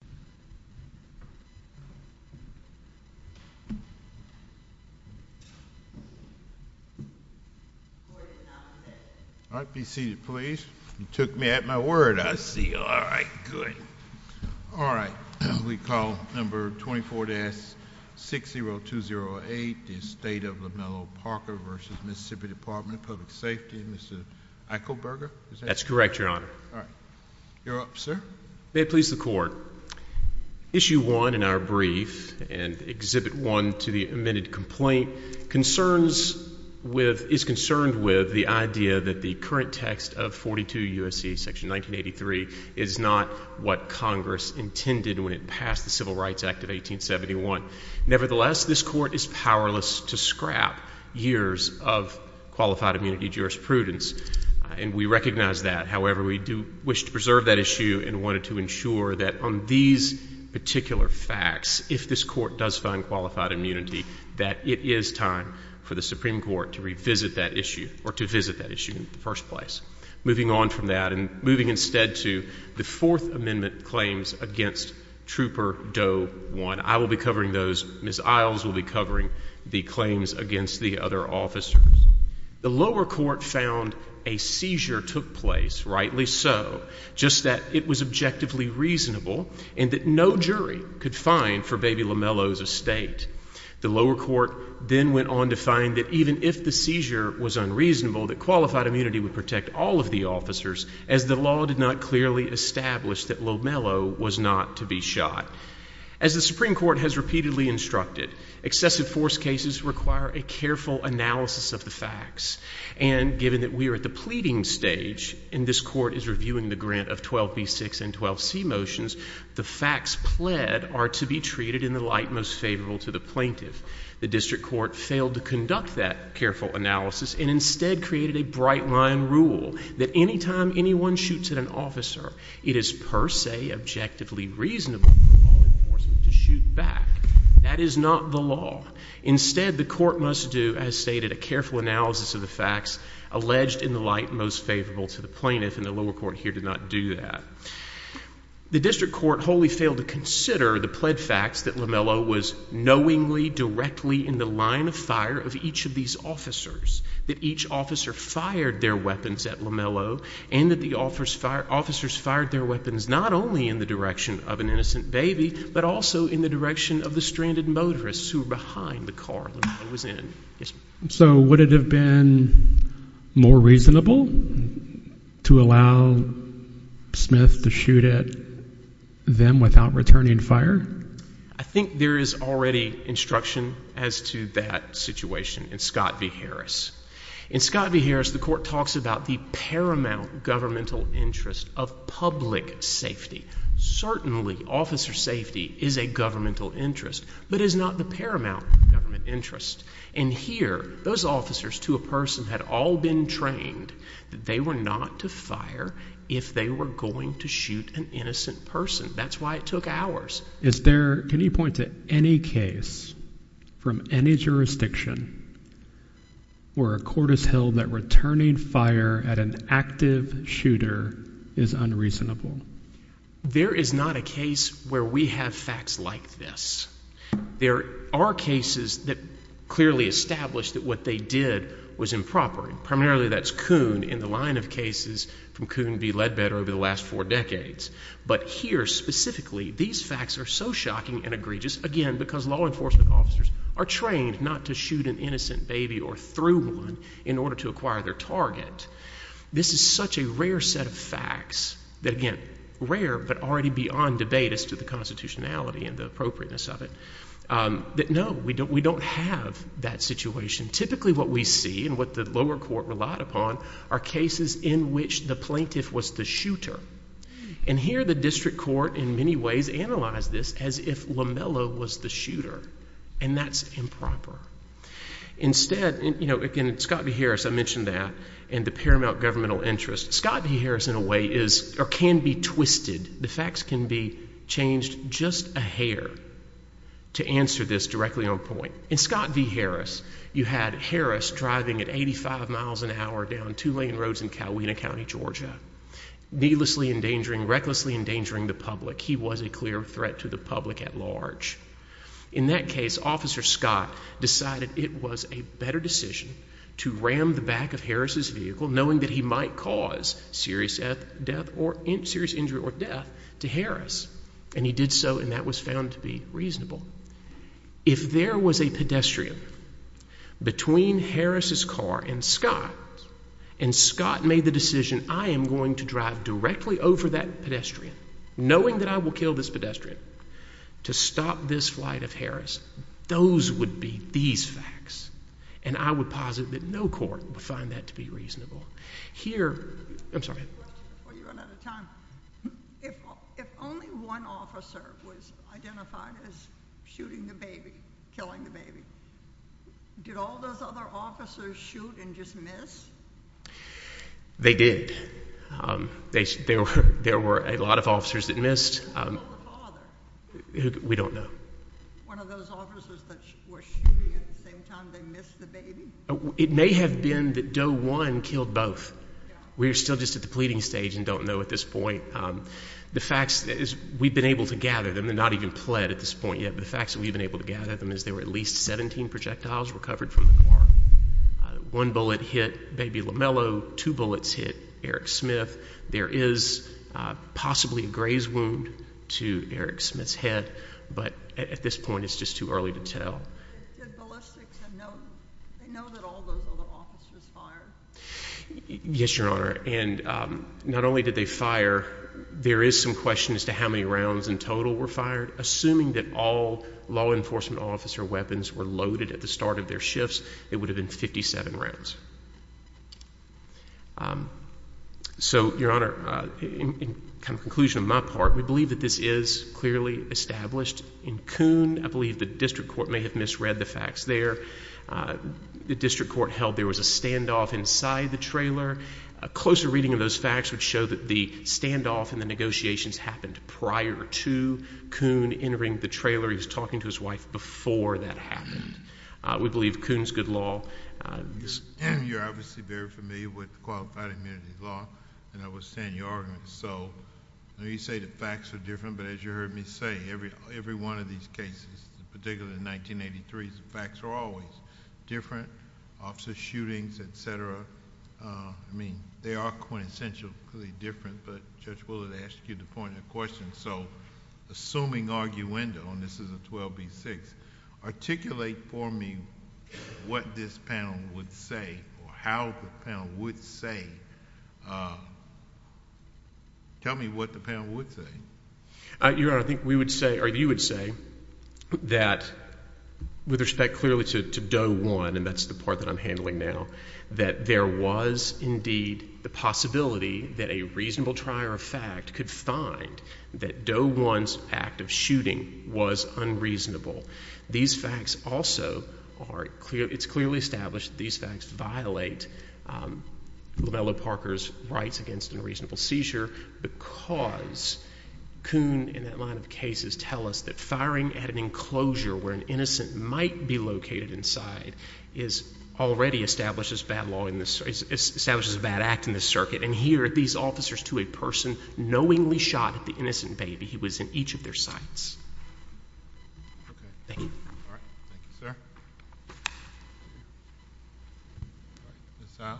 of Public Safety, Mr. Echelberger. That's correct, Your Honor. You're up, sir. May it please the Court. Issue 1 in our brief, and Exhibit 1 to the amended complaint, is concerned with the idea that the current text of 42 U.S.C. section 1983 is not what Congress intended when it passed the Civil Rights Act of 1871. Nevertheless, this Court is powerless to scrap years of qualified immunity jurisprudence, and we recognize that. However, we do wish to preserve that issue and wanted to ensure that on these particular facts, if this Court does find qualified immunity, that it is time for the Supreme Court to revisit that issue or to visit that issue in the first place. Moving on from that and moving instead to the Fourth Amendment claims against Trooper Doe 1. I will be covering those. Ms. Isles will be covering the claims against the other officers. The lower court found a seizure took place, rightly so, just that it was objectively reasonable and that no jury could find for Baby Lomelo's estate. The lower court then went on to find that even if the seizure was unreasonable, that qualified immunity would protect all of the officers, as the law did not clearly establish that Lomelo was not to be shot. As the Supreme Court has repeatedly instructed, excessive force cases require a careful analysis of the facts, and given that we are at the pleading stage and this Court is reviewing the grant of 12b6 and 12c motions, the facts pled are to be treated in the light most favorable to the plaintiff. The district court failed to conduct that careful analysis and instead created a bright-line rule that any time anyone shoots at an officer, it is per se objectively reasonable for law enforcement to shoot back. That is not the law. Instead, the court must do, as stated, a careful analysis of the facts alleged in the light most favorable to the plaintiff, and the lower court here did not do that. The district court wholly failed to consider the pled facts that Lomelo was knowingly, directly in the line of fire of each of these officers, that each officer fired their weapons at Lomelo, and that the officers fired their weapons not only in the direction of an innocent baby, but also in the direction of the stranded motorists who were behind the car Lomelo was in. So would it have been more reasonable to allow Smith to shoot at them without returning fire? I think there is already instruction as to that situation in Scott v. Harris. In Scott v. Harris, the court talks about the paramount governmental interest of public safety. Certainly, officer safety is a governmental interest, but it is not the paramount government interest. And here, those officers, to a person, had all been trained that they were not to fire if they were going to shoot an innocent person. That's why it took hours. Is there, can you point to any case from any jurisdiction where a court has held that returning fire at an active shooter is unreasonable? There is not a case where we have facts like this. There are cases that clearly establish that what they did was improper. Primarily, that's Kuhn in the line of cases from Kuhn v. Ledbetter over the last four decades. But here, specifically, these facts are so shocking and egregious, again, because law enforcement officers are trained not to shoot an innocent baby or through one in order to acquire their target. This is such a rare set of facts that, again, rare, but already beyond debate as to the constitutionality and the appropriateness of it, that no, we don't have that situation. Typically, what we see and what the lower court relied upon are cases in which the plaintiff was the shooter. And here, the district court, in many ways, analyzed this as if Lamella was the shooter, and that's improper. Instead, you know, again, Scott v. Harris, I mentioned that, and the paramount governmental interest. Scott v. Harris, in a way, is, or can be twisted. The facts can be changed just a hair to answer this directly on point. In Scott v. Harris, you had Harris driving at 85 miles an hour down two lane roads in Cowena County, Georgia, needlessly endangering, recklessly endangering the public. He was a clear threat to the public at large. In that case, Officer Scott decided it was a better decision to ram the back of Harris's vehicle, knowing that he might cause serious death or serious injury or death to Harris. And he did so, and that was found to be reasonable. If there was a pedestrian between Harris's car and Scott, and Scott made the decision, I am going to drive directly over that pedestrian, knowing that I will kill this pedestrian, to stop this flight of Harris, those would be these facts. And I would posit that no court would find that to be reasonable. Here, I'm sorry. If only one officer was identified as shooting the baby, killing the baby, did all those other officers shoot and just miss? They did. There were a lot of officers that missed. Who killed the father? We don't know. Was it one of those officers that were shooting at the same time they missed the baby? It may have been that Doe 1 killed both. We're still just at the pleading stage and don't know at this point. The facts is we've been able to gather them, they're not even pled at this point yet, but the facts that we've been able to gather them is there were at least 17 projectiles recovered from the car. One bullet hit Baby Lamello, two bullets hit Eric Smith. There is possibly a graze wound to Eric Smith's head, but at this point it's just too early to tell. Did ballistics know that all those other officers fired? Yes, Your Honor. And not only did they fire, there is some question as to how many rounds in total were fired. Assuming that all law enforcement officer weapons were loaded at the start of their shifts, it would have been 57 rounds. So, Your Honor, in conclusion of my part, we believe that this is clearly established. In Coon, I believe the district court may have misread the facts there. The district court held there was a standoff inside the trailer. A closer reading of those facts would show that the standoff and the negotiations happened prior to Coon entering the trailer. He was talking to his wife before that happened. We believe Coon's good law. You're obviously very familiar with qualified immunity law, and I understand your argument. So, you say the facts are different, but as you heard me say, every one of these cases, particularly in 1983, the facts are always different. Officer shootings, etc. I mean, they are quintessentially different, but Judge Willard asked you the point of the question. So, assuming arguendo, and this is a 12B6, articulate for me what this panel would say or how the panel would say. Tell me what the panel would say. Your Honor, I think we would say, or you would say, that with respect clearly to Doe 1, and that's the part that I'm handling now, that there was indeed the possibility that a reasonable trier of fact could find that Doe 1's act of shooting was unreasonable. These facts also are, it's clearly established that these facts violate Lavello Parker's rights against unreasonable seizure because Coon, in that line of cases, tell us that firing at an enclosure where an innocent might be located inside already establishes bad law, establishes a bad act in this circuit. And here, these officers to a person knowingly shot at the innocent baby. He was in each of their sights. Thank you. Ms. Siles.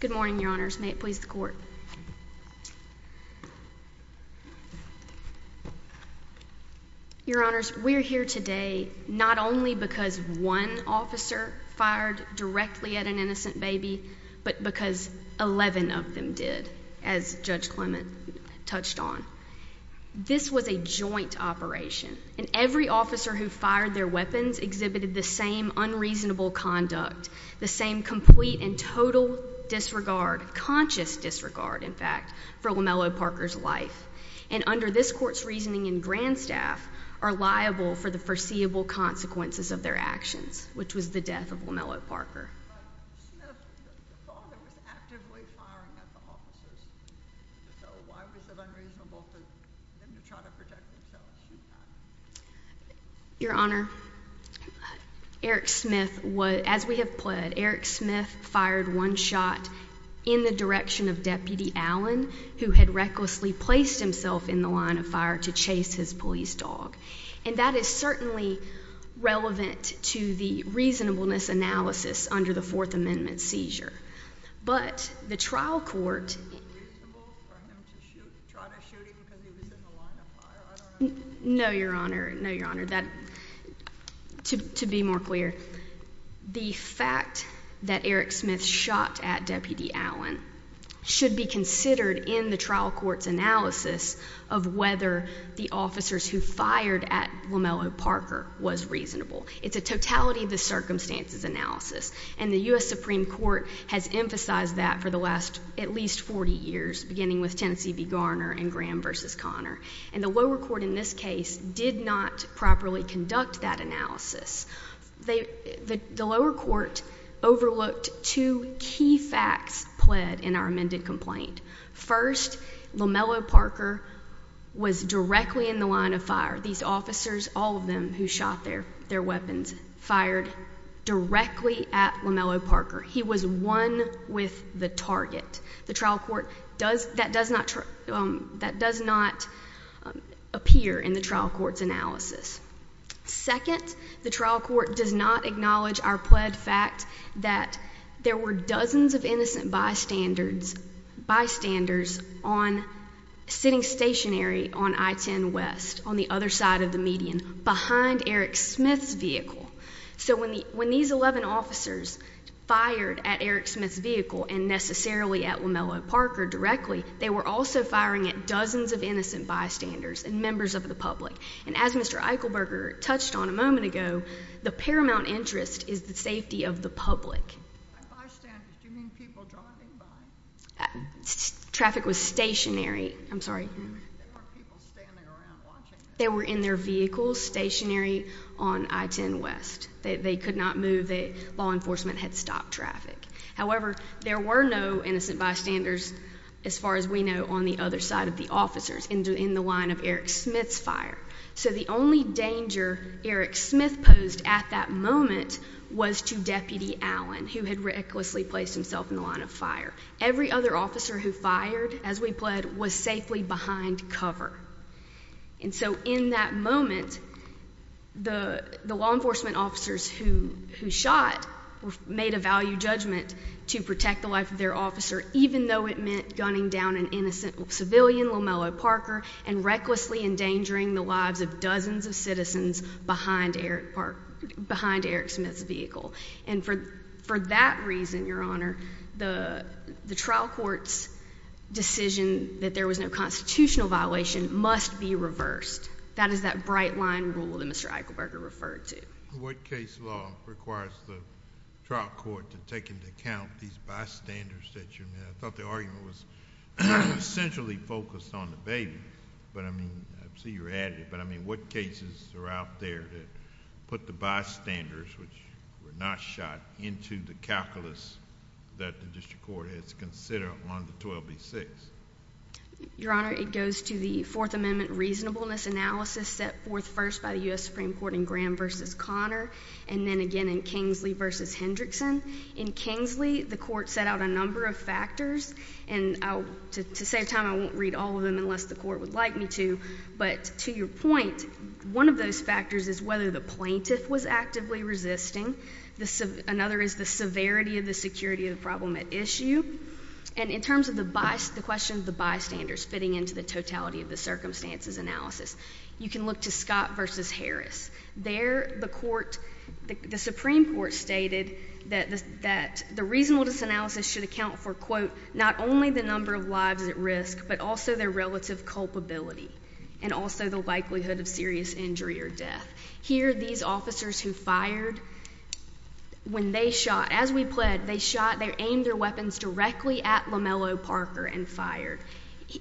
Good morning, Your Honors. May it please the Court. Your Honors, we're here today not only because one officer fired directly at an innocent baby, but because 11 of them did, as Judge Clement touched on. This was a joint operation, and every officer who fired their weapons exhibited the same unreasonable conduct, the same complete and total disregard, conscious disregard, in fact, for Lavello Parker's life. And under this Court's reasoning, Grand Staff are liable for the foreseeable consequences of their actions, which was the death of Lavello Parker. But Smith, the father, was actively firing at the officers. So why was it unreasonable for him to try to protect himself? Your Honor, Eric Smith, as we have pled, Eric Smith fired one shot in the direction of Deputy Allen, who had recklessly placed himself in the line of fire to chase his police dog. And that is certainly relevant to the reasonableness analysis under the Fourth Amendment seizure. But the trial court— Was it unreasonable for him to try to shoot him because he was in the line of fire? No, Your Honor. No, Your Honor. To be more clear, the fact that Eric Smith shot at Deputy Allen should be considered in the trial court's analysis of whether the officers who fired at Lavello Parker was reasonable. It's a totality of the circumstances analysis. And the U.S. Supreme Court has emphasized that for the last at least 40 years, beginning with Tennessee v. Garner and Graham v. Conner. And the lower court in this case did not properly conduct that analysis. The lower court overlooked two key facts pled in our amended complaint. First, Lavello Parker was directly in the line of fire. These officers, all of them who shot their weapons, fired directly at Lavello Parker. He was one with the target. That does not appear in the trial court's analysis. Second, the trial court does not acknowledge our pled fact that there were dozens of innocent bystanders sitting stationary on I-10 West, on the other side of the median, behind Eric Smith's vehicle. So when these 11 officers fired at Eric Smith's vehicle and necessarily at Lavello Parker directly, they were also firing at dozens of innocent bystanders and members of the public. And as Mr. Eichelberger touched on a moment ago, the paramount interest is the safety of the public. Traffic was stationary. They were in their vehicles stationary on I-10 West. They could not move. Law enforcement had stopped traffic. However, there were no innocent bystanders, as far as we know, on the other side of the officers in the line of Eric Smith's fire. So the only danger Eric Smith posed at that moment was to Deputy Allen, who had recklessly placed himself in the line of fire. Every other officer who fired as we pled was safely behind cover. And so in that moment, the law enforcement officers who shot made a value judgment to protect the life of their officer, even though it meant gunning down an innocent civilian, Lavello Parker, and recklessly endangering the lives of dozens of citizens behind Eric Smith's vehicle. And for that reason, Your Honor, the trial court's decision that there was no constitutional violation must be reversed. That is that bright line rule that Mr. Eichelberger referred to. What case law requires the trial court to take into account these bystanders that you made? I thought the argument was centrally focused on the baby, but I mean, I see you're adding it, but I mean, what cases are out there that put the bystanders, which were not shot, into the calculus that the district court has considered on the 12B6? Your Honor, it goes to the Fourth Amendment reasonableness analysis set forth first by the U.S. Supreme Court in Graham v. Connor, and then again in Kingsley v. Hendrickson. In Kingsley, the court set out a number of factors, and to save time, I won't read all of them unless the court would like me to, but to your point, one of those factors is whether the plaintiff was actively resisting. Another is the severity of the security of the problem at issue. And in terms of the question of the bystanders fitting into the totality of the circumstances analysis, you can look to Scott v. Harris. There, the Supreme Court stated that the reasonableness analysis should account for, quote, not only the number of lives at risk, but also their relative culpability, and also the likelihood of serious injury or death. Here, these officers who fired, when they shot, as we pled, they shot, they aimed their weapons directly at Lamello Parker and fired.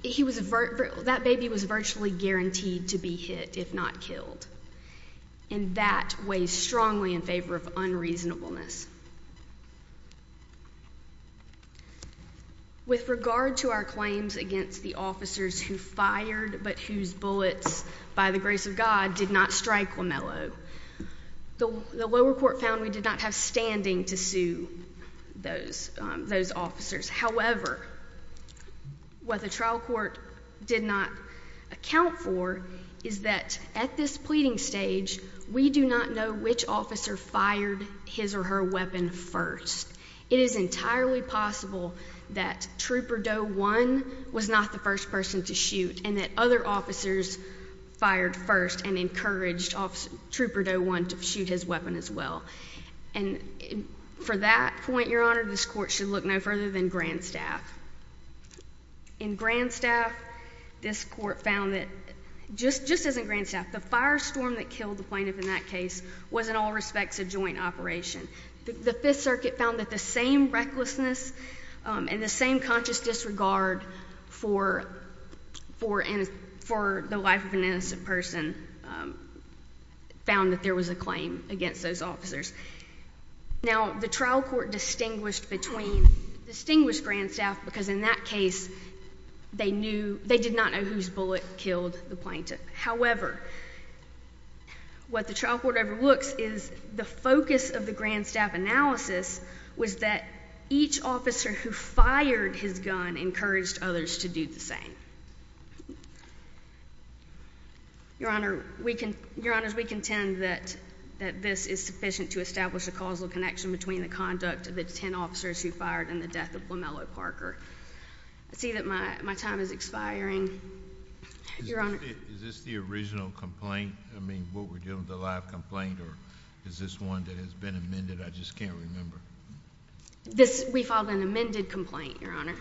That baby was virtually guaranteed to be hit, if not killed. And that weighs strongly in favor of unreasonableness. With regard to our claims against the officers who fired, but whose bullets, by the grace of God, did not strike Lamello, the lower court found we did not have standing to sue those officers. However, what the trial court did not account for is that at this pleading stage, we do not know which officer fired his or her weapon first. It is entirely possible that Trooper Doe 1 was not the first person to shoot, and that other officers fired first and encouraged Trooper Doe 1 to shoot his weapon as well. For that point, Your Honor, this court should look no further than Grandstaff. In Grandstaff, this court found that just as in Grandstaff, the firestorm that killed the plaintiff in that case was in all respects a joint operation. The Fifth Circuit found that the same recklessness and the same conscious disregard for the life of an innocent person found that there was a claim against those officers. Now, the trial court distinguished Grandstaff because in that case, they did not know whose bullet killed the plaintiff. However, what the trial court overlooks is the focus of the Grandstaff analysis was that each officer who fired his gun encouraged others to do the same. Your Honor, we contend that this is sufficient to establish a causal connection between the conduct of the 10 officers who fired and the death of Lamella Parker. I see that my time is expiring. Your Honor. Is this the original complaint? I mean, what we're dealing with, the live complaint, or is this one that has been amended? I just can't remember. We filed an amended complaint, Your Honor,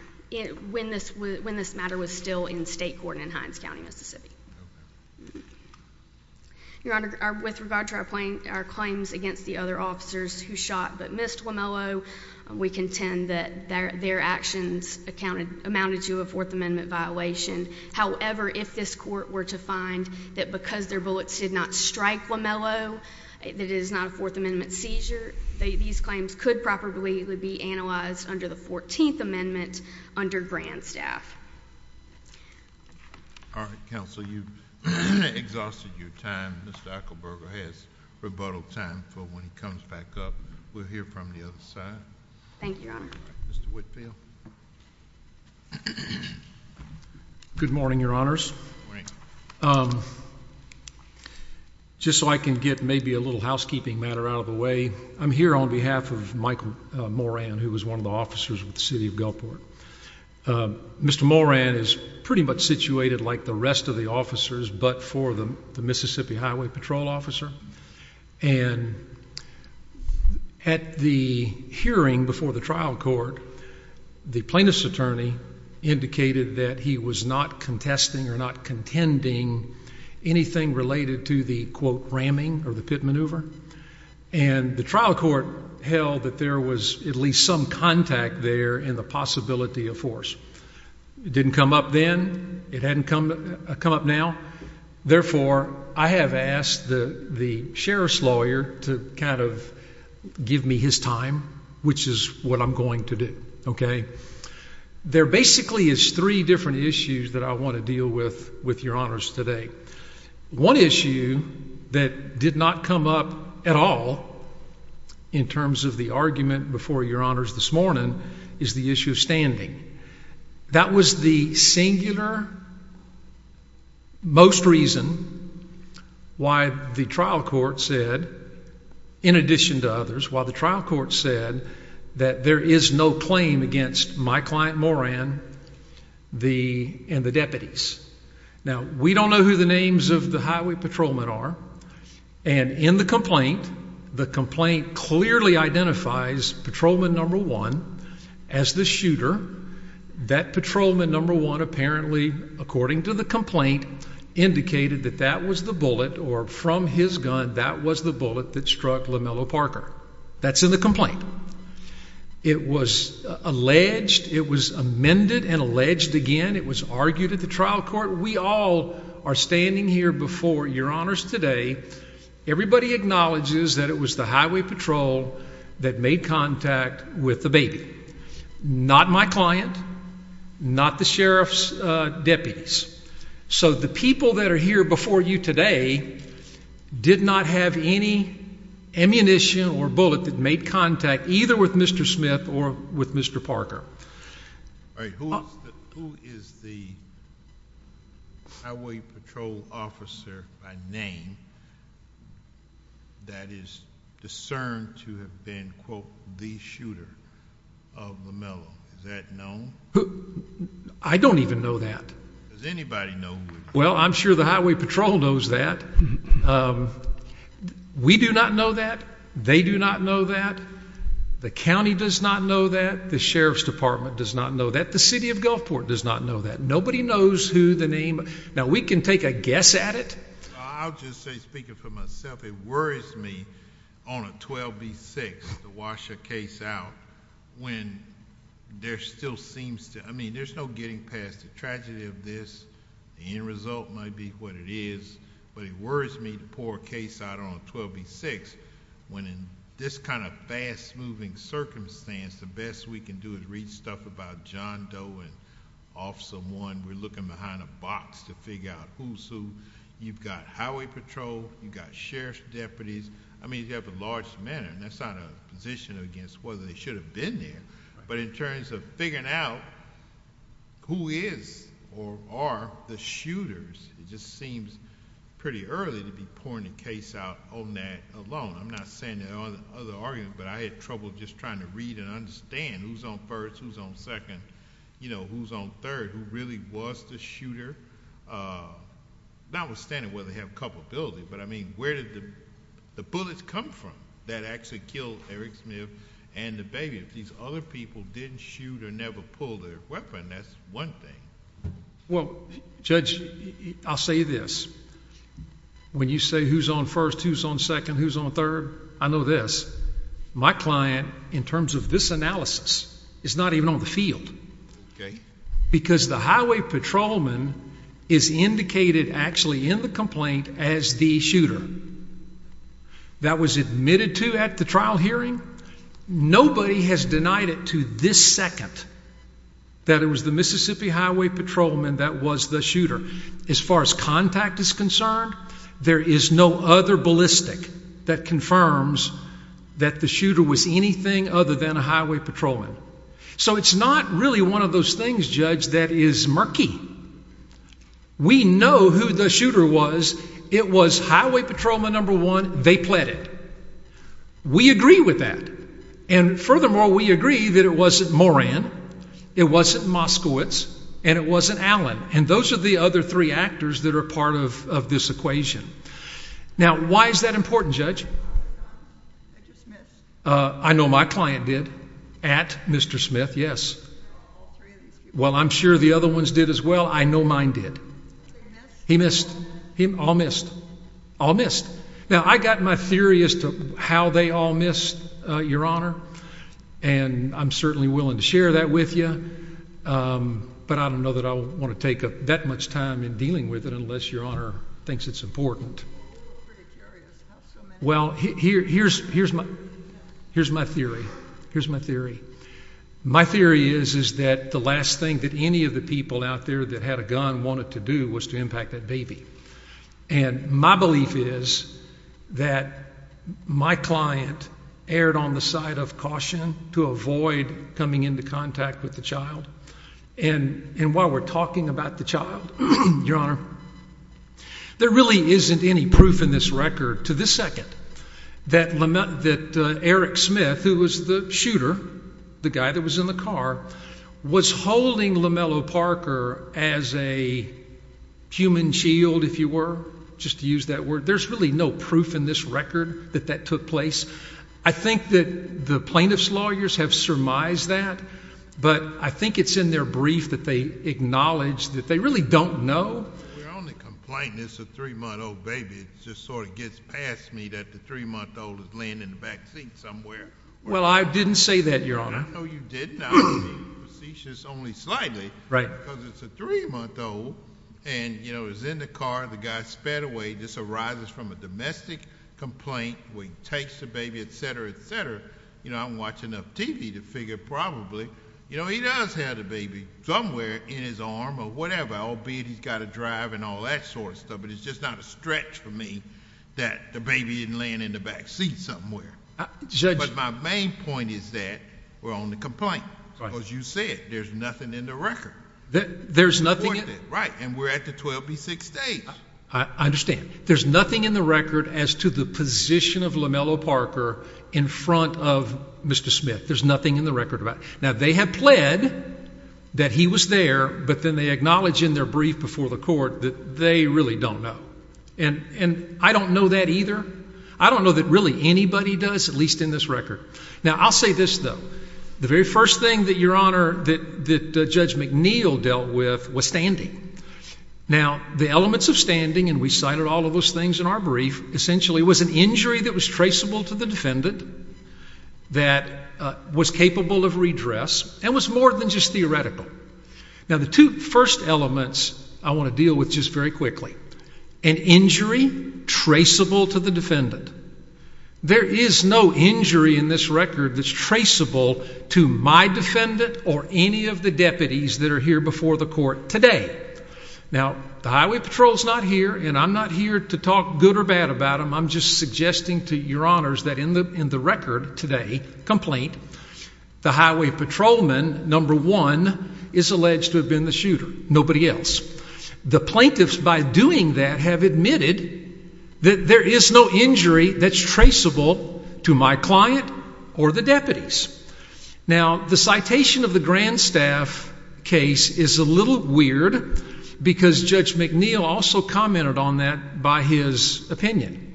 when this matter was still in state court in Hines County, Mississippi. Your Honor, with regard to our claims against the other officers who shot but missed Lamella, we contend that their actions amounted to a Fourth Amendment violation. However, if this court were to find that because their bullets did not cease, these claims could probably be analyzed under the 14th Amendment under Grandstaff. All right, counsel, you've exhausted your time. Mr. Ekelberger has rebuttal time for when he comes back up. We'll hear from the other side. Thank you, Your Honor. Mr. Whitfield. Good morning, Your Honors. Just so I can get maybe a little housekeeping matter out of the way, I'm here on behalf of Michael Moran, who was one of the officers with the city of Guilford. Mr. Moran is pretty much situated like the rest of the officers, but for the Mississippi Highway Patrol officer. And at the hearing before the trial court, the plaintiff's attorney indicated that he was not contesting or not contending anything related to the, quote, ramming or the pit maneuver. And the trial court held that there was at least some contact there in the possibility of force. It didn't come up then. It hadn't come up now. Therefore, I have asked the sheriff's lawyer to kind of give me his time, which is what I'm going to do. Okay? There basically is three different issues that I want to deal with with Your Honors today. One issue that did not come up at all in terms of the argument before Your Honors this morning is the issue of standing. That was the singular most reason why the trial court said, in addition to others, why the trial court said that there is no claim against my client Moran and the deputies. Now, we don't know who the names of the highway patrolmen are. And in the complaint, the complaint clearly identifies patrolman number one as the shooter. That patrolman number one apparently, according to the complaint, indicated that that was the bullet or from his gun that was the bullet that struck Lamello Parker. That's in the complaint. It was alleged. It was amended and alleged again. It was argued at the trial court. We all are standing here before Your Honors today. Everybody acknowledges that it was the highway patrol that made contact with the baby. Not my client. Not the sheriff's deputies. So the people that are here before you today did not have any ammunition or bullet that made contact either with Mr. Smith or with Mr. Parker. Who is the highway patrol officer by name that is discerned to have been, quote, the shooter of Lamello? Is that known? I don't even know that. Does anybody know? Well, I'm sure the highway patrol knows that. We do not know that. They do not know that the county does not know that the sheriff's department does not know that the city of Gulfport does not know that nobody knows who the name. Now we can take a guess at it. I'll just say speaking for myself, it worries me on a 12 B6 to wash a case out when there still seems to I mean, there's no getting past the tragedy of this. The end result might be what it is. But it worries me to pour a case out on a 12 B6 when in this kind of fast moving circumstance, the best we can do is read stuff about John Doe and Officer 1. We're looking behind a box to figure out who's who. You've got highway patrol. You've got sheriff's deputies. I mean, you have a large matter. That's not a position against whether they should have been there. But in terms of figuring out who is or are the shooters, it just seems pretty early to be pouring a case out on that alone. I'm not saying there aren't other arguments, but I had trouble just trying to read and understand who's on first, who's on second, who's on third, who really was the shooter. Notwithstanding whether they have culpability, but I mean, where did the bullets come from that actually killed Eric Smith and the baby? If these other people didn't shoot or never pull their weapon, that's one thing. Well, Judge, I'll say this. When you say who's on first, who's on second, who's on third? I know this. My client, in terms of this analysis, is not even on the field because the highway patrolman is indicated actually in the complaint as the shooter. That was admitted to at the trial hearing. Nobody has denied it to this second that it was the Mississippi Highway Patrolman that was the shooter. As far as contact is concerned, there is no other ballistic that confirms that the shooter was anything other than a highway patrolman. So it's not really one of those things, Judge, that is murky. We know who the shooter was. It was highway patrolman number one. They pled it. We agree with that. And furthermore, we agree that it wasn't Moran, it wasn't Moskowitz, and it wasn't Allen. And those are the other three actors that are part of this equation. Now, why is that important, Judge? I know my client did at Mr. Smith. Yes. Well, I'm sure the other ones did as well. I know mine did. He missed him. All missed. All missed. Now I got my theory as to how they all missed your honor, and I'm certainly willing to share that with you. But I don't know that I want to take up that much time in dealing with it unless your honor thinks it's important. Well, here's my theory. My theory is that the last thing that any of the people out there that had a gun wanted to do was to impact that baby. And my belief is that my client erred on the side of caution to avoid coming into contact with the child. And while we're talking about the child, your honor, there really isn't any proof in this record to this second that Eric Smith, who was the shooter, the guy that was in the car, was holding Lamella Parker as a human shield, if you were, just to use that word. There's really no proof in this record that that took place. I think that the plaintiff's lawyers have surmised that, but I think it's in their brief that they acknowledge that they really don't know. We're only complaining it's a three-month-old baby. It just sort of gets past me that the three-month-old is laying in the back seat somewhere. Well, I didn't say that, your honor. No, you didn't. I was being facetious only slightly. Right. Because it's a three-month-old and, you know, it was in the car. The guy sped away. This arises from a domestic complaint where he takes the baby, et cetera, et cetera. You know, I'm watching enough TV to figure probably, you know, he does have the baby somewhere in his arm or whatever, albeit he's got a drive and all that sort of stuff. But it's just not a stretch for me that the baby isn't laying in the back seat somewhere. But my main point is that we're on complaint. Right. Because you said there's nothing in the record. There's nothing in it. Right. And we're at the 12B6 stage. I understand. There's nothing in the record as to the position of Lamello Parker in front of Mr. Smith. There's nothing in the record about it. Now, they have pled that he was there, but then they acknowledge in their brief before the court that they really don't know. And I don't know that either. I don't know that really anybody does, at least in this record. Now, I'll say this, though. The very first thing that Your Honor, that Judge McNeil dealt with was standing. Now, the elements of standing, and we cited all of those things in our brief, essentially was an injury that was traceable to the defendant, that was capable of redress, and was more than just theoretical. Now, the two first elements I want to deal with just very quickly. An injury traceable to the defendant. There is no injury in this record that's traceable to my defendant or any of the deputies that are here before the court today. Now, the Highway Patrol's not here, and I'm not here to talk good or bad about them. I'm just suggesting to Your Honors that in the record today, complaint, the Highway Patrolman, number one, is alleged to have been the shooter. Nobody else. The plaintiffs, by doing that, have admitted that there is no injury that's traceable to my client or the deputies. Now, the citation of the Grand Staff case is a little weird because Judge McNeil also commented on that by his opinion.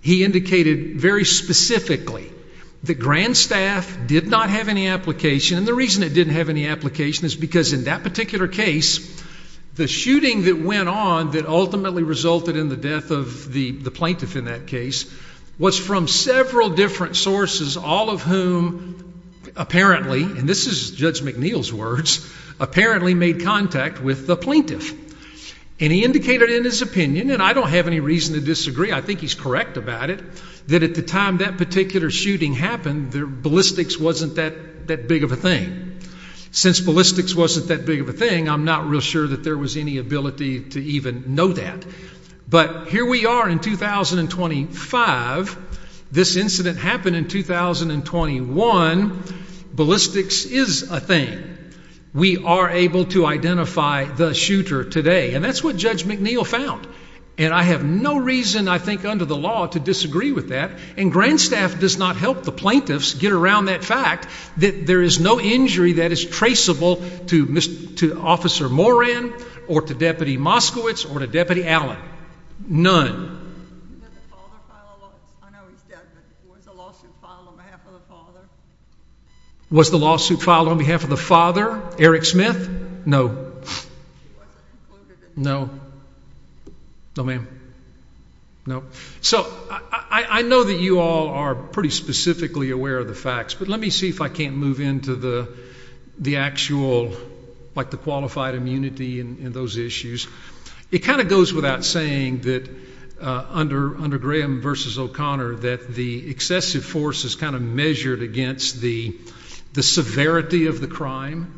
He indicated very specifically that Grand Staff did not have any application, and the reason it didn't have any application is because in that particular case, the shooting that went on that ultimately resulted in the death of the plaintiff in that case was from several different sources, all of whom apparently, and this is Judge McNeil's words, apparently made contact with the and he's correct about it, that at the time that particular shooting happened, ballistics wasn't that big of a thing. Since ballistics wasn't that big of a thing, I'm not real sure that there was any ability to even know that. But here we are in 2025, this incident happened in 2021, ballistics is a thing. We are able to identify the shooter today, and that's what Judge McNeil found. And I have no reason, I think, under the law to disagree with that, and Grand Staff does not help the plaintiffs get around that fact that there is no injury that is traceable to Officer Moran or to Deputy Moskowitz or to Deputy Allen. None. Was the lawsuit filed on behalf of the father? Eric Smith? No. No, ma'am. No. So I know that you all are pretty specifically aware of the facts, but let me see if I can't move into the actual, like the qualified immunity and those issues. It kind of goes without saying that under Graham v. O'Connor that the excessive force is kind of measured against the severity of the crime.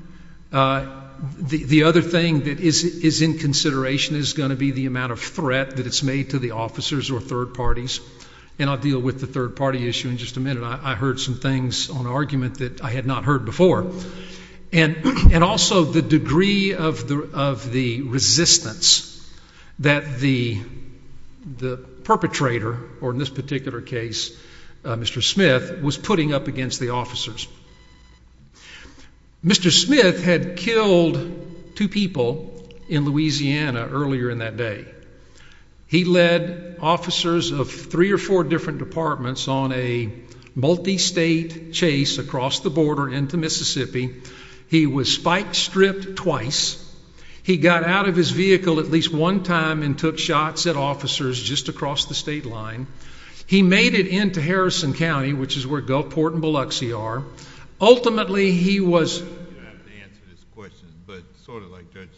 The other thing that is in consideration is going to be the amount of threat that it's made to the officers or third parties. And I'll deal with the third party issue in just a minute. I heard some things on argument that I had not heard before. And also the degree of the resistance that the perpetrator, or in this particular case Mr. Smith, was putting up against the officers. Mr. Smith had killed two people in Louisiana earlier in that day. He led officers of three or four different departments on a multi-state chase across the border into Mississippi. He was bike-stripped twice. He got out of his vehicle at least one time and took shots at officers just across the state line. He made it into Harrison County, which is where Gulfport and Biloxi are. Ultimately he was... You don't have to answer this question, but sort of like Judge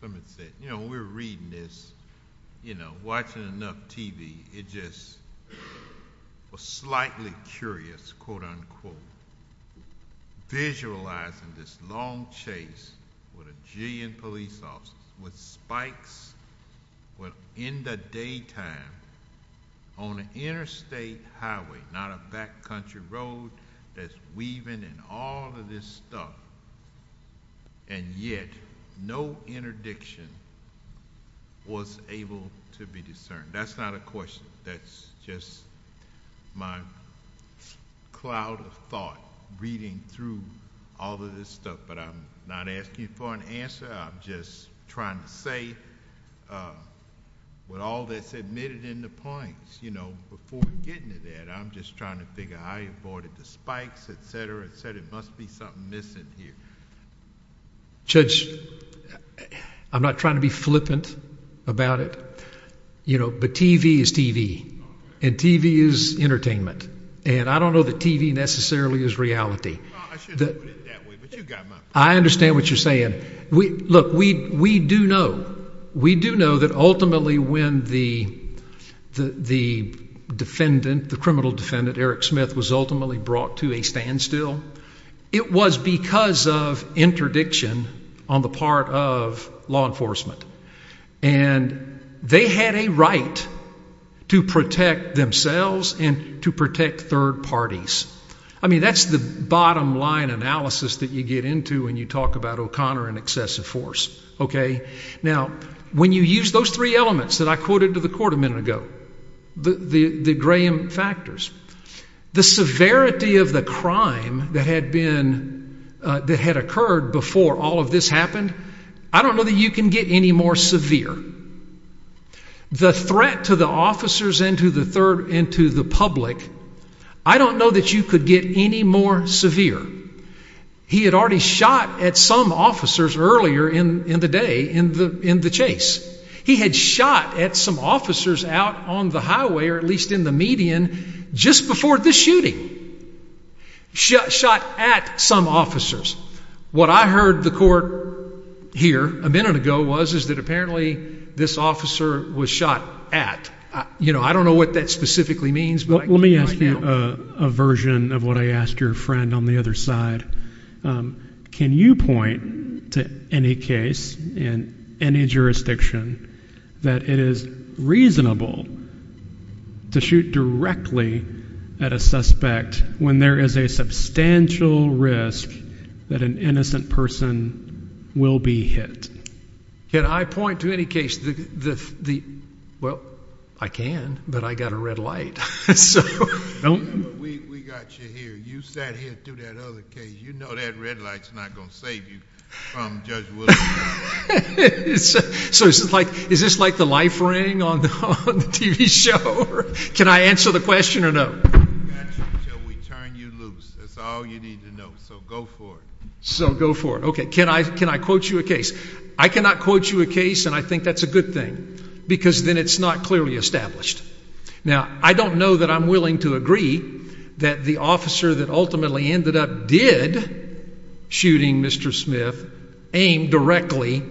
Clement said, you know, when we were reading this, you know, watching enough TV, it just was slightly curious, quote-unquote, visualizing this long chase with a jillion police officers with spikes in the daytime on an interstate highway, not a backcountry road that's weaving and all of this stuff. And yet no interdiction was able to be discerned. That's not a question. That's just my cloud of thought reading through all of this stuff, but I'm not asking for an answer. I'm just trying to say with all that's admitted in the points, you know, before getting to that, I'm just trying to figure out how he avoided the spikes, et cetera, et cetera. There must be something missing here. Judge, I'm not trying to be flippant about it, you know, but TV is TV, and TV is entertainment. And I don't know that TV necessarily is reality. I understand what you're saying. Look, we do know, we do know that ultimately when the defendant, the criminal defendant, Eric Smith, was ultimately brought to a standstill, it was because of interdiction on the part of law enforcement. And they had a right to protect themselves and to protect third parties. I mean, that's the bottom line analysis that you get into when you talk about O'Connor and excessive force, okay? Now, when you use those three elements that I quoted to the court a minute ago, the Graham factors, the severity of the crime that had been, that had occurred before all of this happened, I don't know that you can get any more severe. The threat to the officers and to the public, I don't know that you could get any more severe. He had already shot at some officers earlier in the day in the chase. He had shot at some officers out on the highway, or at least in the median, just before this shooting. Shot at some officers. What I heard the court hear a minute ago was that apparently this officer was shot at. You know, I don't know what that specifically means, but I can't right now. I have a version of what I asked your friend on the other side. Can you point to any case in any jurisdiction that it is reasonable to shoot directly at a suspect when there is a substantial risk that an innocent person will be hit? Can I point to any case that, well, I can, but I got a red light. We got you here. You sat here through that other case. You know that red light's not going to save you from Judge Williams. Is this like the life ring on the TV show? Can I answer the question or no? We got you until we turn you loose. That's all you need to know. So go for it. Okay. Can I quote you a case? I cannot quote you a case, and I think that's a good thing, because then it's not clearly established. Now, I don't know that I'm willing to agree that the officer that ultimately ended up did shooting Mr. Smith aimed directly,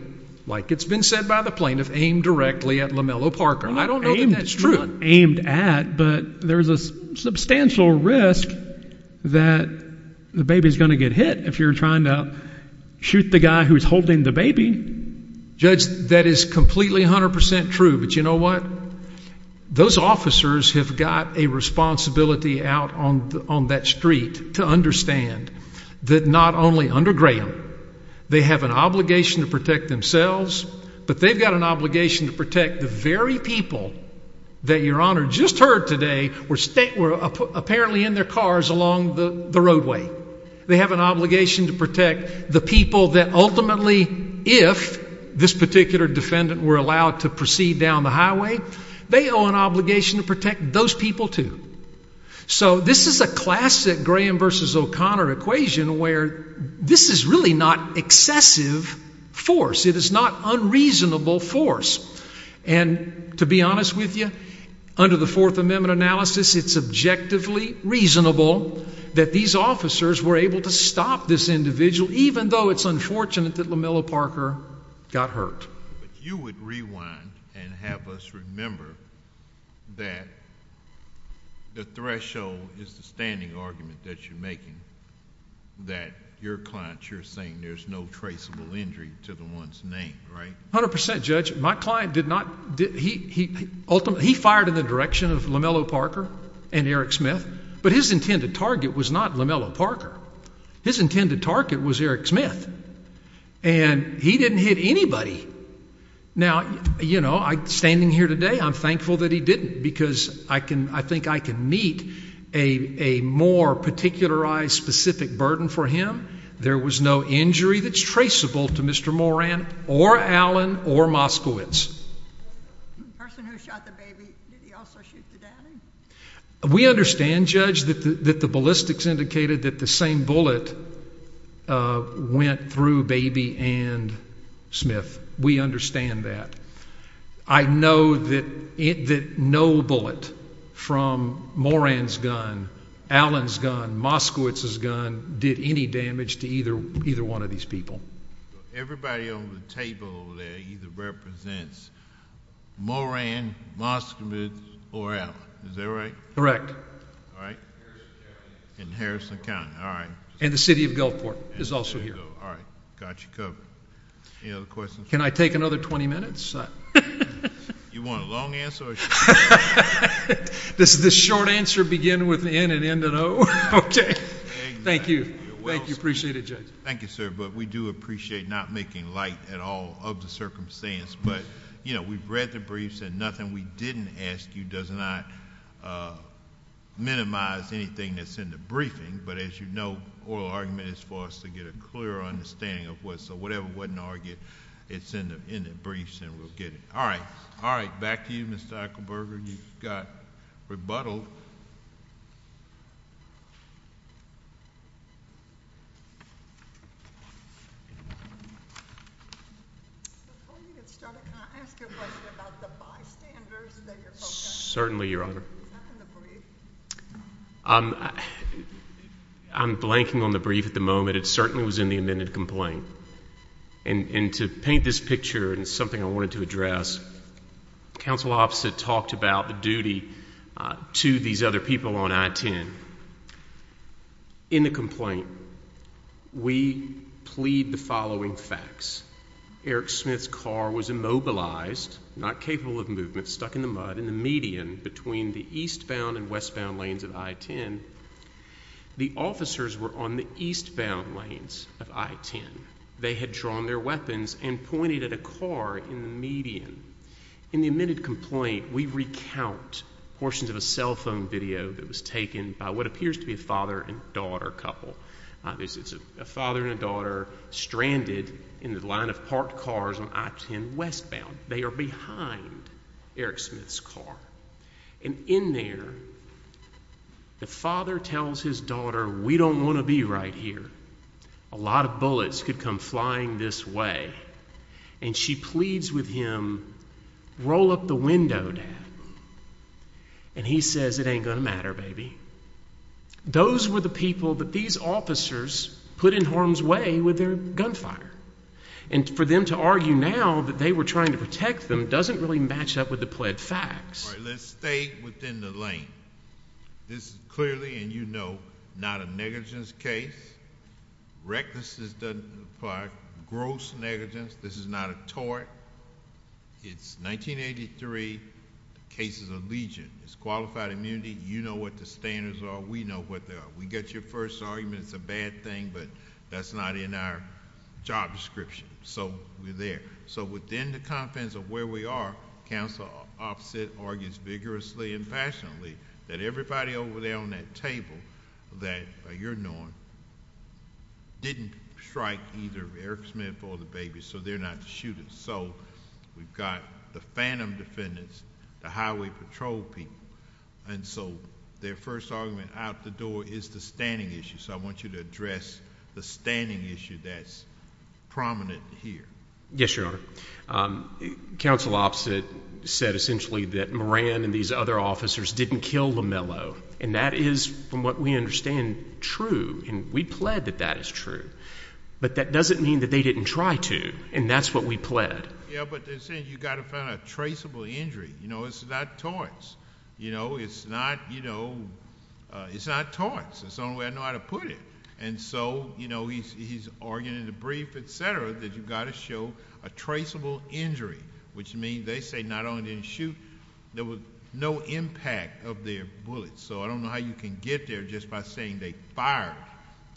like it's been said by the plaintiff, aimed directly at Lamello Parker. I don't know that that's true. It's not aimed at, but there's a substantial risk that the baby's going to get hit if you're trying to shoot the guy who's holding the baby. Judge, that is completely 100% true, but you know what? Those officers have got a responsibility out on that street to understand that not only under Graham, they have an obligation to protect themselves, but they've got an obligation to protect the very people that Your Honor just heard today were apparently in their cars along the roadway. They have an obligation to protect the people that ultimately, if this particular defendant were allowed to proceed down the highway, they owe an obligation to protect those people, too. So this is a classic Graham versus O'Connor equation where this is really not excessive force. It is not unreasonable force. And to be honest with you, under the Fourth Amendment analysis, it's objectively reasonable that these officers were able to stop this individual, even though it's unfortunate that Lamello Parker got hurt. But you would rewind and have us remember that the threshold is the standing argument that you're making that your client, you're saying there's no traceable injury to the one's name, right? 100%, Judge. My client did not... he ultimately... he fired in the direction of Lamello Parker and Eric Smith, but his intended target was not Lamello Parker. His intended target was Eric Smith, and he didn't hit anybody. Now, you know, standing here today, I'm thankful that he didn't because I think I can meet a more particularized, specific burden for him. There was no injury that's traceable to Mr. Moran or Allen or Moskowitz. We understand, Judge, that the ballistics indicated that the same bullet went through Baby and Smith. We understand that. I know that no bullet from Moran's gun, Allen's gun, Moskowitz's gun, did any damage to either one of these people. Everybody on the table over there either represents Moran, Moskowitz, or Allen. Is that right? Correct. And the City of Gulfport is also here. Can I take another 20 minutes? Does this short answer begin with an N and end with an O? Thank you. Appreciate it, Judge. Thank you, sir, but we do appreciate not making light at all of the circumstance, but we've read the briefs and nothing we didn't ask you does not minimize anything that's in the briefing, but as you know, oral argument is for us to get a clear understanding of what's... so whatever wasn't argued, it's in the briefs and we'll get it. All right. Back to you, Mr. Ekelberger. You got rebuttaled. Before you get started, can I ask you a question about the bystanders that you're focusing on? Certainly, Your Honor. Is that in the brief? I'm blanking on the brief at the moment. It certainly was in the amended complaint. And to paint this picture in something I wanted to address, counsel opposite talked about the duty to these other people on I-10. In the complaint, we plead the following facts. Eric Smith's car was immobilized, not capable of movement, stuck in the mud in the median between the eastbound and westbound lanes of I-10. The officers were on the eastbound lanes of I-10. They had drawn their weapons and pointed at a car in the median. In the amended complaint, we recount portions of a cell phone video that was taken by what appears to be a father and daughter couple. It's a father and a daughter stranded in the line of parked cars on I-10 westbound. They are behind Eric Smith's car. And in there, the father tells his daughter, we don't want to be right here. A lot of bullets could come flying this way. And she pleads with him, roll up the window, dad. And he says, it ain't going to matter, baby. Those were the people that these officers put in harm's way with their gunfire. And for them to argue now that they were trying to protect them doesn't really match up with the pled facts. All right, let's stay within the lane. This clearly, and you know, not a negligence case. Recklessness doesn't apply. Gross negligence. This is not a tort. It's 1983. The case is a legion. It's qualified immunity. You know what the standards are. We know what they are. We get your first argument it's a bad thing, but that's not in our job description. So we're there. So within the confines of where we are, Counsel Offset argues vigorously and passionately that everybody over there on that table, that you're knowing, didn't strike either Eric Smith or the baby, so they're not the shooters. So we've got the phantom defendants, the highway patrol people. And so their first argument out the door is the standing issue. So I want you to address the standing issue that's prominent here. Yes, Your Honor. Counsel Offset said essentially that Moran and these other officers didn't kill Lamello. And that is, from what we understand, true. And we plead that that is true. But that doesn't mean that they didn't try to. And that's what we plead. Yeah, but they're saying you've got to find a traceable injury. You know, it's not torts. You know, it's not, you know, it's not torts. That's the only way I know how to put it. And so, you know, he's arguing in the brief, et cetera, that you've got to show a traceable injury, which means they say not only didn't shoot, there was no impact of their bullets. So I don't know how you can get there just by saying they fired.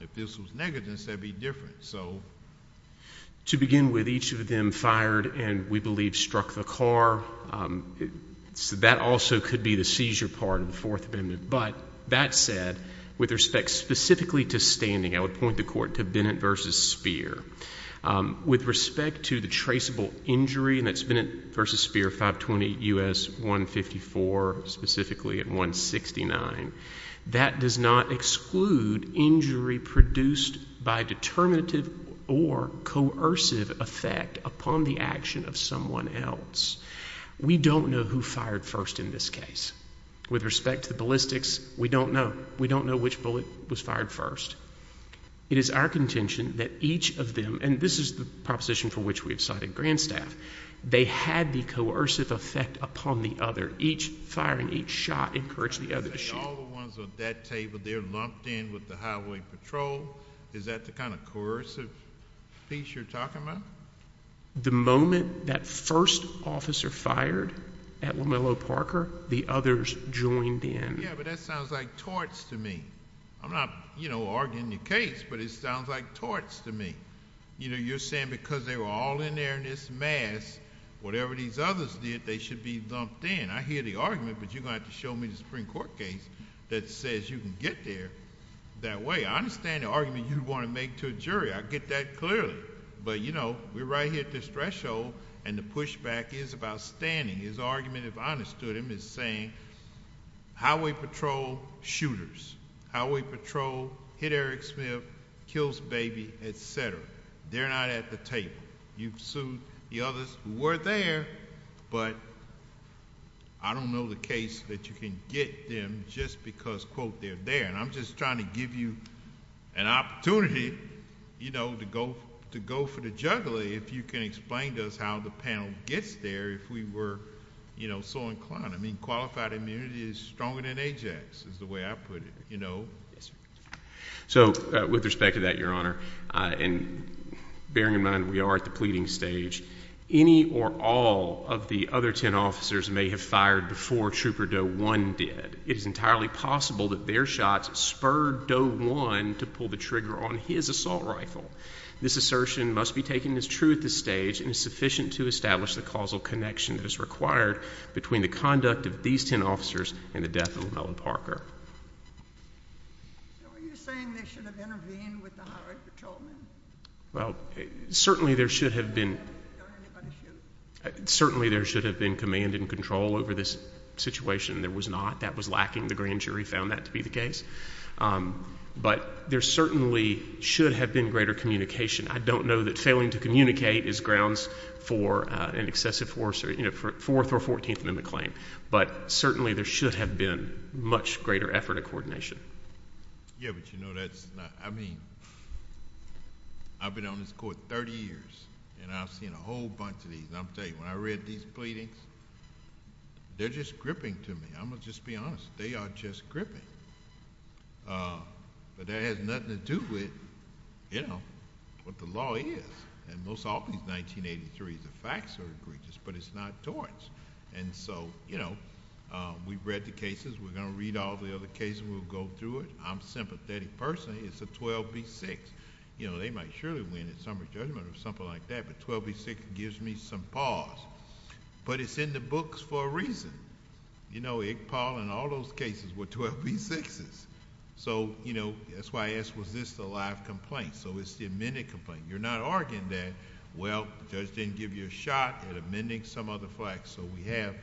If this was negligence, that would be different. To begin with, each of them fired and we believe struck the car. That also could be the seizure part of the Fourth Amendment. But that said, with respect specifically to standing, I would point the court to Bennett v. Speer. With respect to the traceable injury, and that's Bennett v. Speer, 520 U.S. 154, specifically at 169, that does not exclude injury produced by determinative or coercive effect upon the action of someone else. We don't know who fired first in this case. With respect to the ballistics, we don't know. We don't know which bullet was fired first. It is our contention that each of them, and this is the proposition for which we have cited Grandstaff, they had the coercive effect upon the other. Each firing each shot encouraged the other to shoot. All the ones on that table, they're lumped in with the highway patrol. Is that the kind of coercive piece you're talking about? The moment that first officer fired at Lamello Parker, the others joined in. Yeah, but that sounds like torts to me. I'm not arguing the case, but it sounds like torts to me. You're saying because they were all in there in this mass, whatever these others did, they should be lumped in. I hear the argument, but you're going to have to show me the Supreme Court case that says you can get there that way. I understand the argument you want to make to a jury. I get that clearly, but, you know, we're right here at this threshold, and the pushback is about standing. His argument, if I understood him, is saying highway patrol, shooters. Highway patrol hit Eric Smith, kills Baby, et cetera. They're not at the table. You've sued the others who were there, but I don't know the case that you can get them just because, quote, they're there. And I'm just trying to give you an opportunity, you know, to go for the juggler if you can explain to us how the panel gets there if we were, you know, so inclined. I mean, qualified immunity is stronger than AJAX is the way I put it, you know. Yes, sir. So with respect to that, Your Honor, and bearing in mind we are at the pleading stage, any or all of the other ten officers may have fired before Trooper Doe 1 did. It is entirely possible that their shots spurred Doe 1 to pull the trigger on his assault rifle. This assertion must be taken as true at this stage and is sufficient to establish the causal connection that is required between the conduct of these ten officers and the death of Llewellyn Parker. So are you saying they should have intervened with the highway patrolmen? Well, certainly there should have been command and control over this situation. There was not. That was lacking. The grand jury found that to be the case. But there certainly should have been greater communication. I don't know that failing to communicate is grounds for an excessive force or, you know, fourth or fourteenth in the claim. But certainly there should have been much greater effort at coordination. Yeah, but, you know, that's not—I mean, I've been on this Court 30 years, and I've seen a whole bunch of these. And I'll tell you, when I read these pleadings, they're just gripping to me. I'm going to just be honest. They are just gripping. But that has nothing to do with, you know, what the law is. And most often, it's 1983. The facts are egregious, but it's not torts. And so, you know, we've read the cases. We're going to read all the other cases. We'll go through it. I'm a sympathetic person. It's a 12B6. You know, they might surely win in summer judgment or something like that, but 12B6 gives me some pause. But it's in the books for a reason. You know, Iqbal in all those cases were 12B6s. So, you know, that's why I asked, was this the live complaint? So it's the amended complaint. You're not arguing that, well, the judge didn't give you a shot at amending some of the facts, so we have,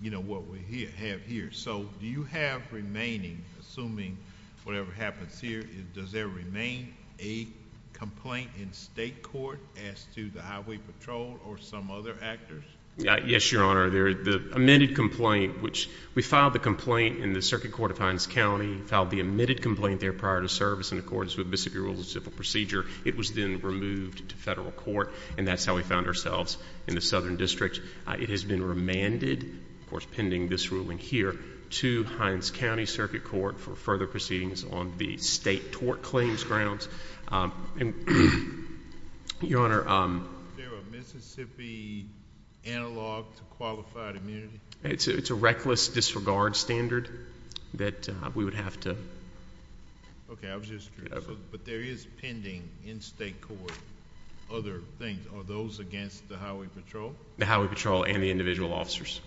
you know, what we have here. So do you have remaining, assuming whatever happens here, does there remain a complaint in state court as to the highway patrol or some other actors? Yes, Your Honor. The amended complaint, which we filed the complaint in the Circuit Court of Hinds County, filed the amended complaint there prior to service in accordance with Mississippi Rules of Civil Procedure. It was then removed to federal court, and that's how we found ourselves in the Southern District. It has been remanded, of course pending this ruling here, to Hinds County Circuit Court for further proceedings on the state tort claims grounds. Your Honor. Is there a Mississippi analog to qualified immunity? It's a reckless disregard standard that we would have to. Okay, I was just curious. But there is pending in state court other things. Are those against the highway patrol? The highway patrol and the individual officers.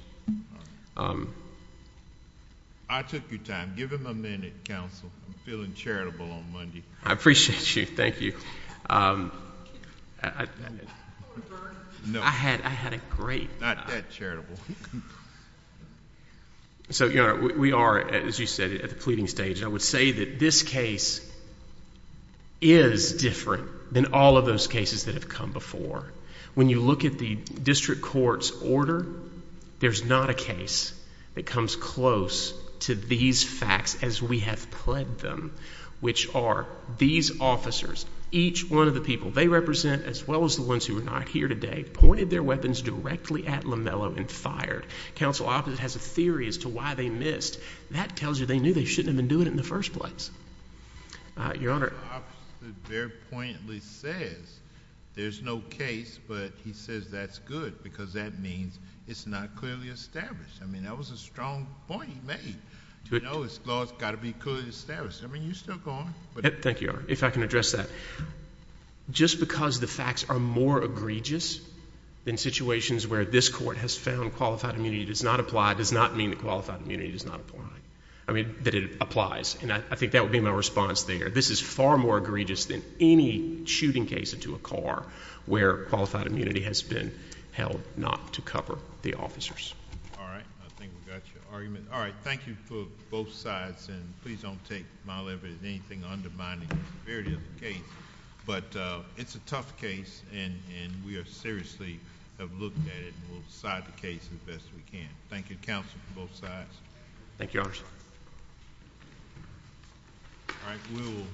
I took your time. Give him a minute, counsel. I'm feeling charitable on Monday. I appreciate you. Thank you. I had a great time. Not that charitable. So, Your Honor, we are, as you said, at the pleading stage, and I would say that this case is different than all of those cases that have come before. When you look at the district court's order, there's not a case that comes close to these facts as we have pledged them, which are these officers, each one of the people they represent, as well as the ones who are not here today, pointed their weapons directly at Lamello and fired. Counsel, I have a theory as to why they missed. That tells you they knew they shouldn't have been doing it in the first place. Your Honor. The officer very poignantly says there's no case, but he says that's good because that means it's not clearly established. I mean, that was a strong point he made. You know, it's got to be clearly established. I mean, you're still going. Thank you, Your Honor. If I can address that. Just because the facts are more egregious than situations where this court has found qualified immunity does not apply does not mean that qualified immunity does not apply. I mean, that it applies, and I think that would be my response there. This is far more egregious than any shooting case into a car where qualified immunity has been held not to cover the officers. All right. I think we got your argument. Thank you for both sides, and please don't take my liberty in anything undermining the severity of the case. But it's a tough case, and we seriously have looked at it, and we'll decide the case as best we can. Thank you, counsel, for both sides. Thank you, Your Honor. Thank you, counsel. All right, we'll-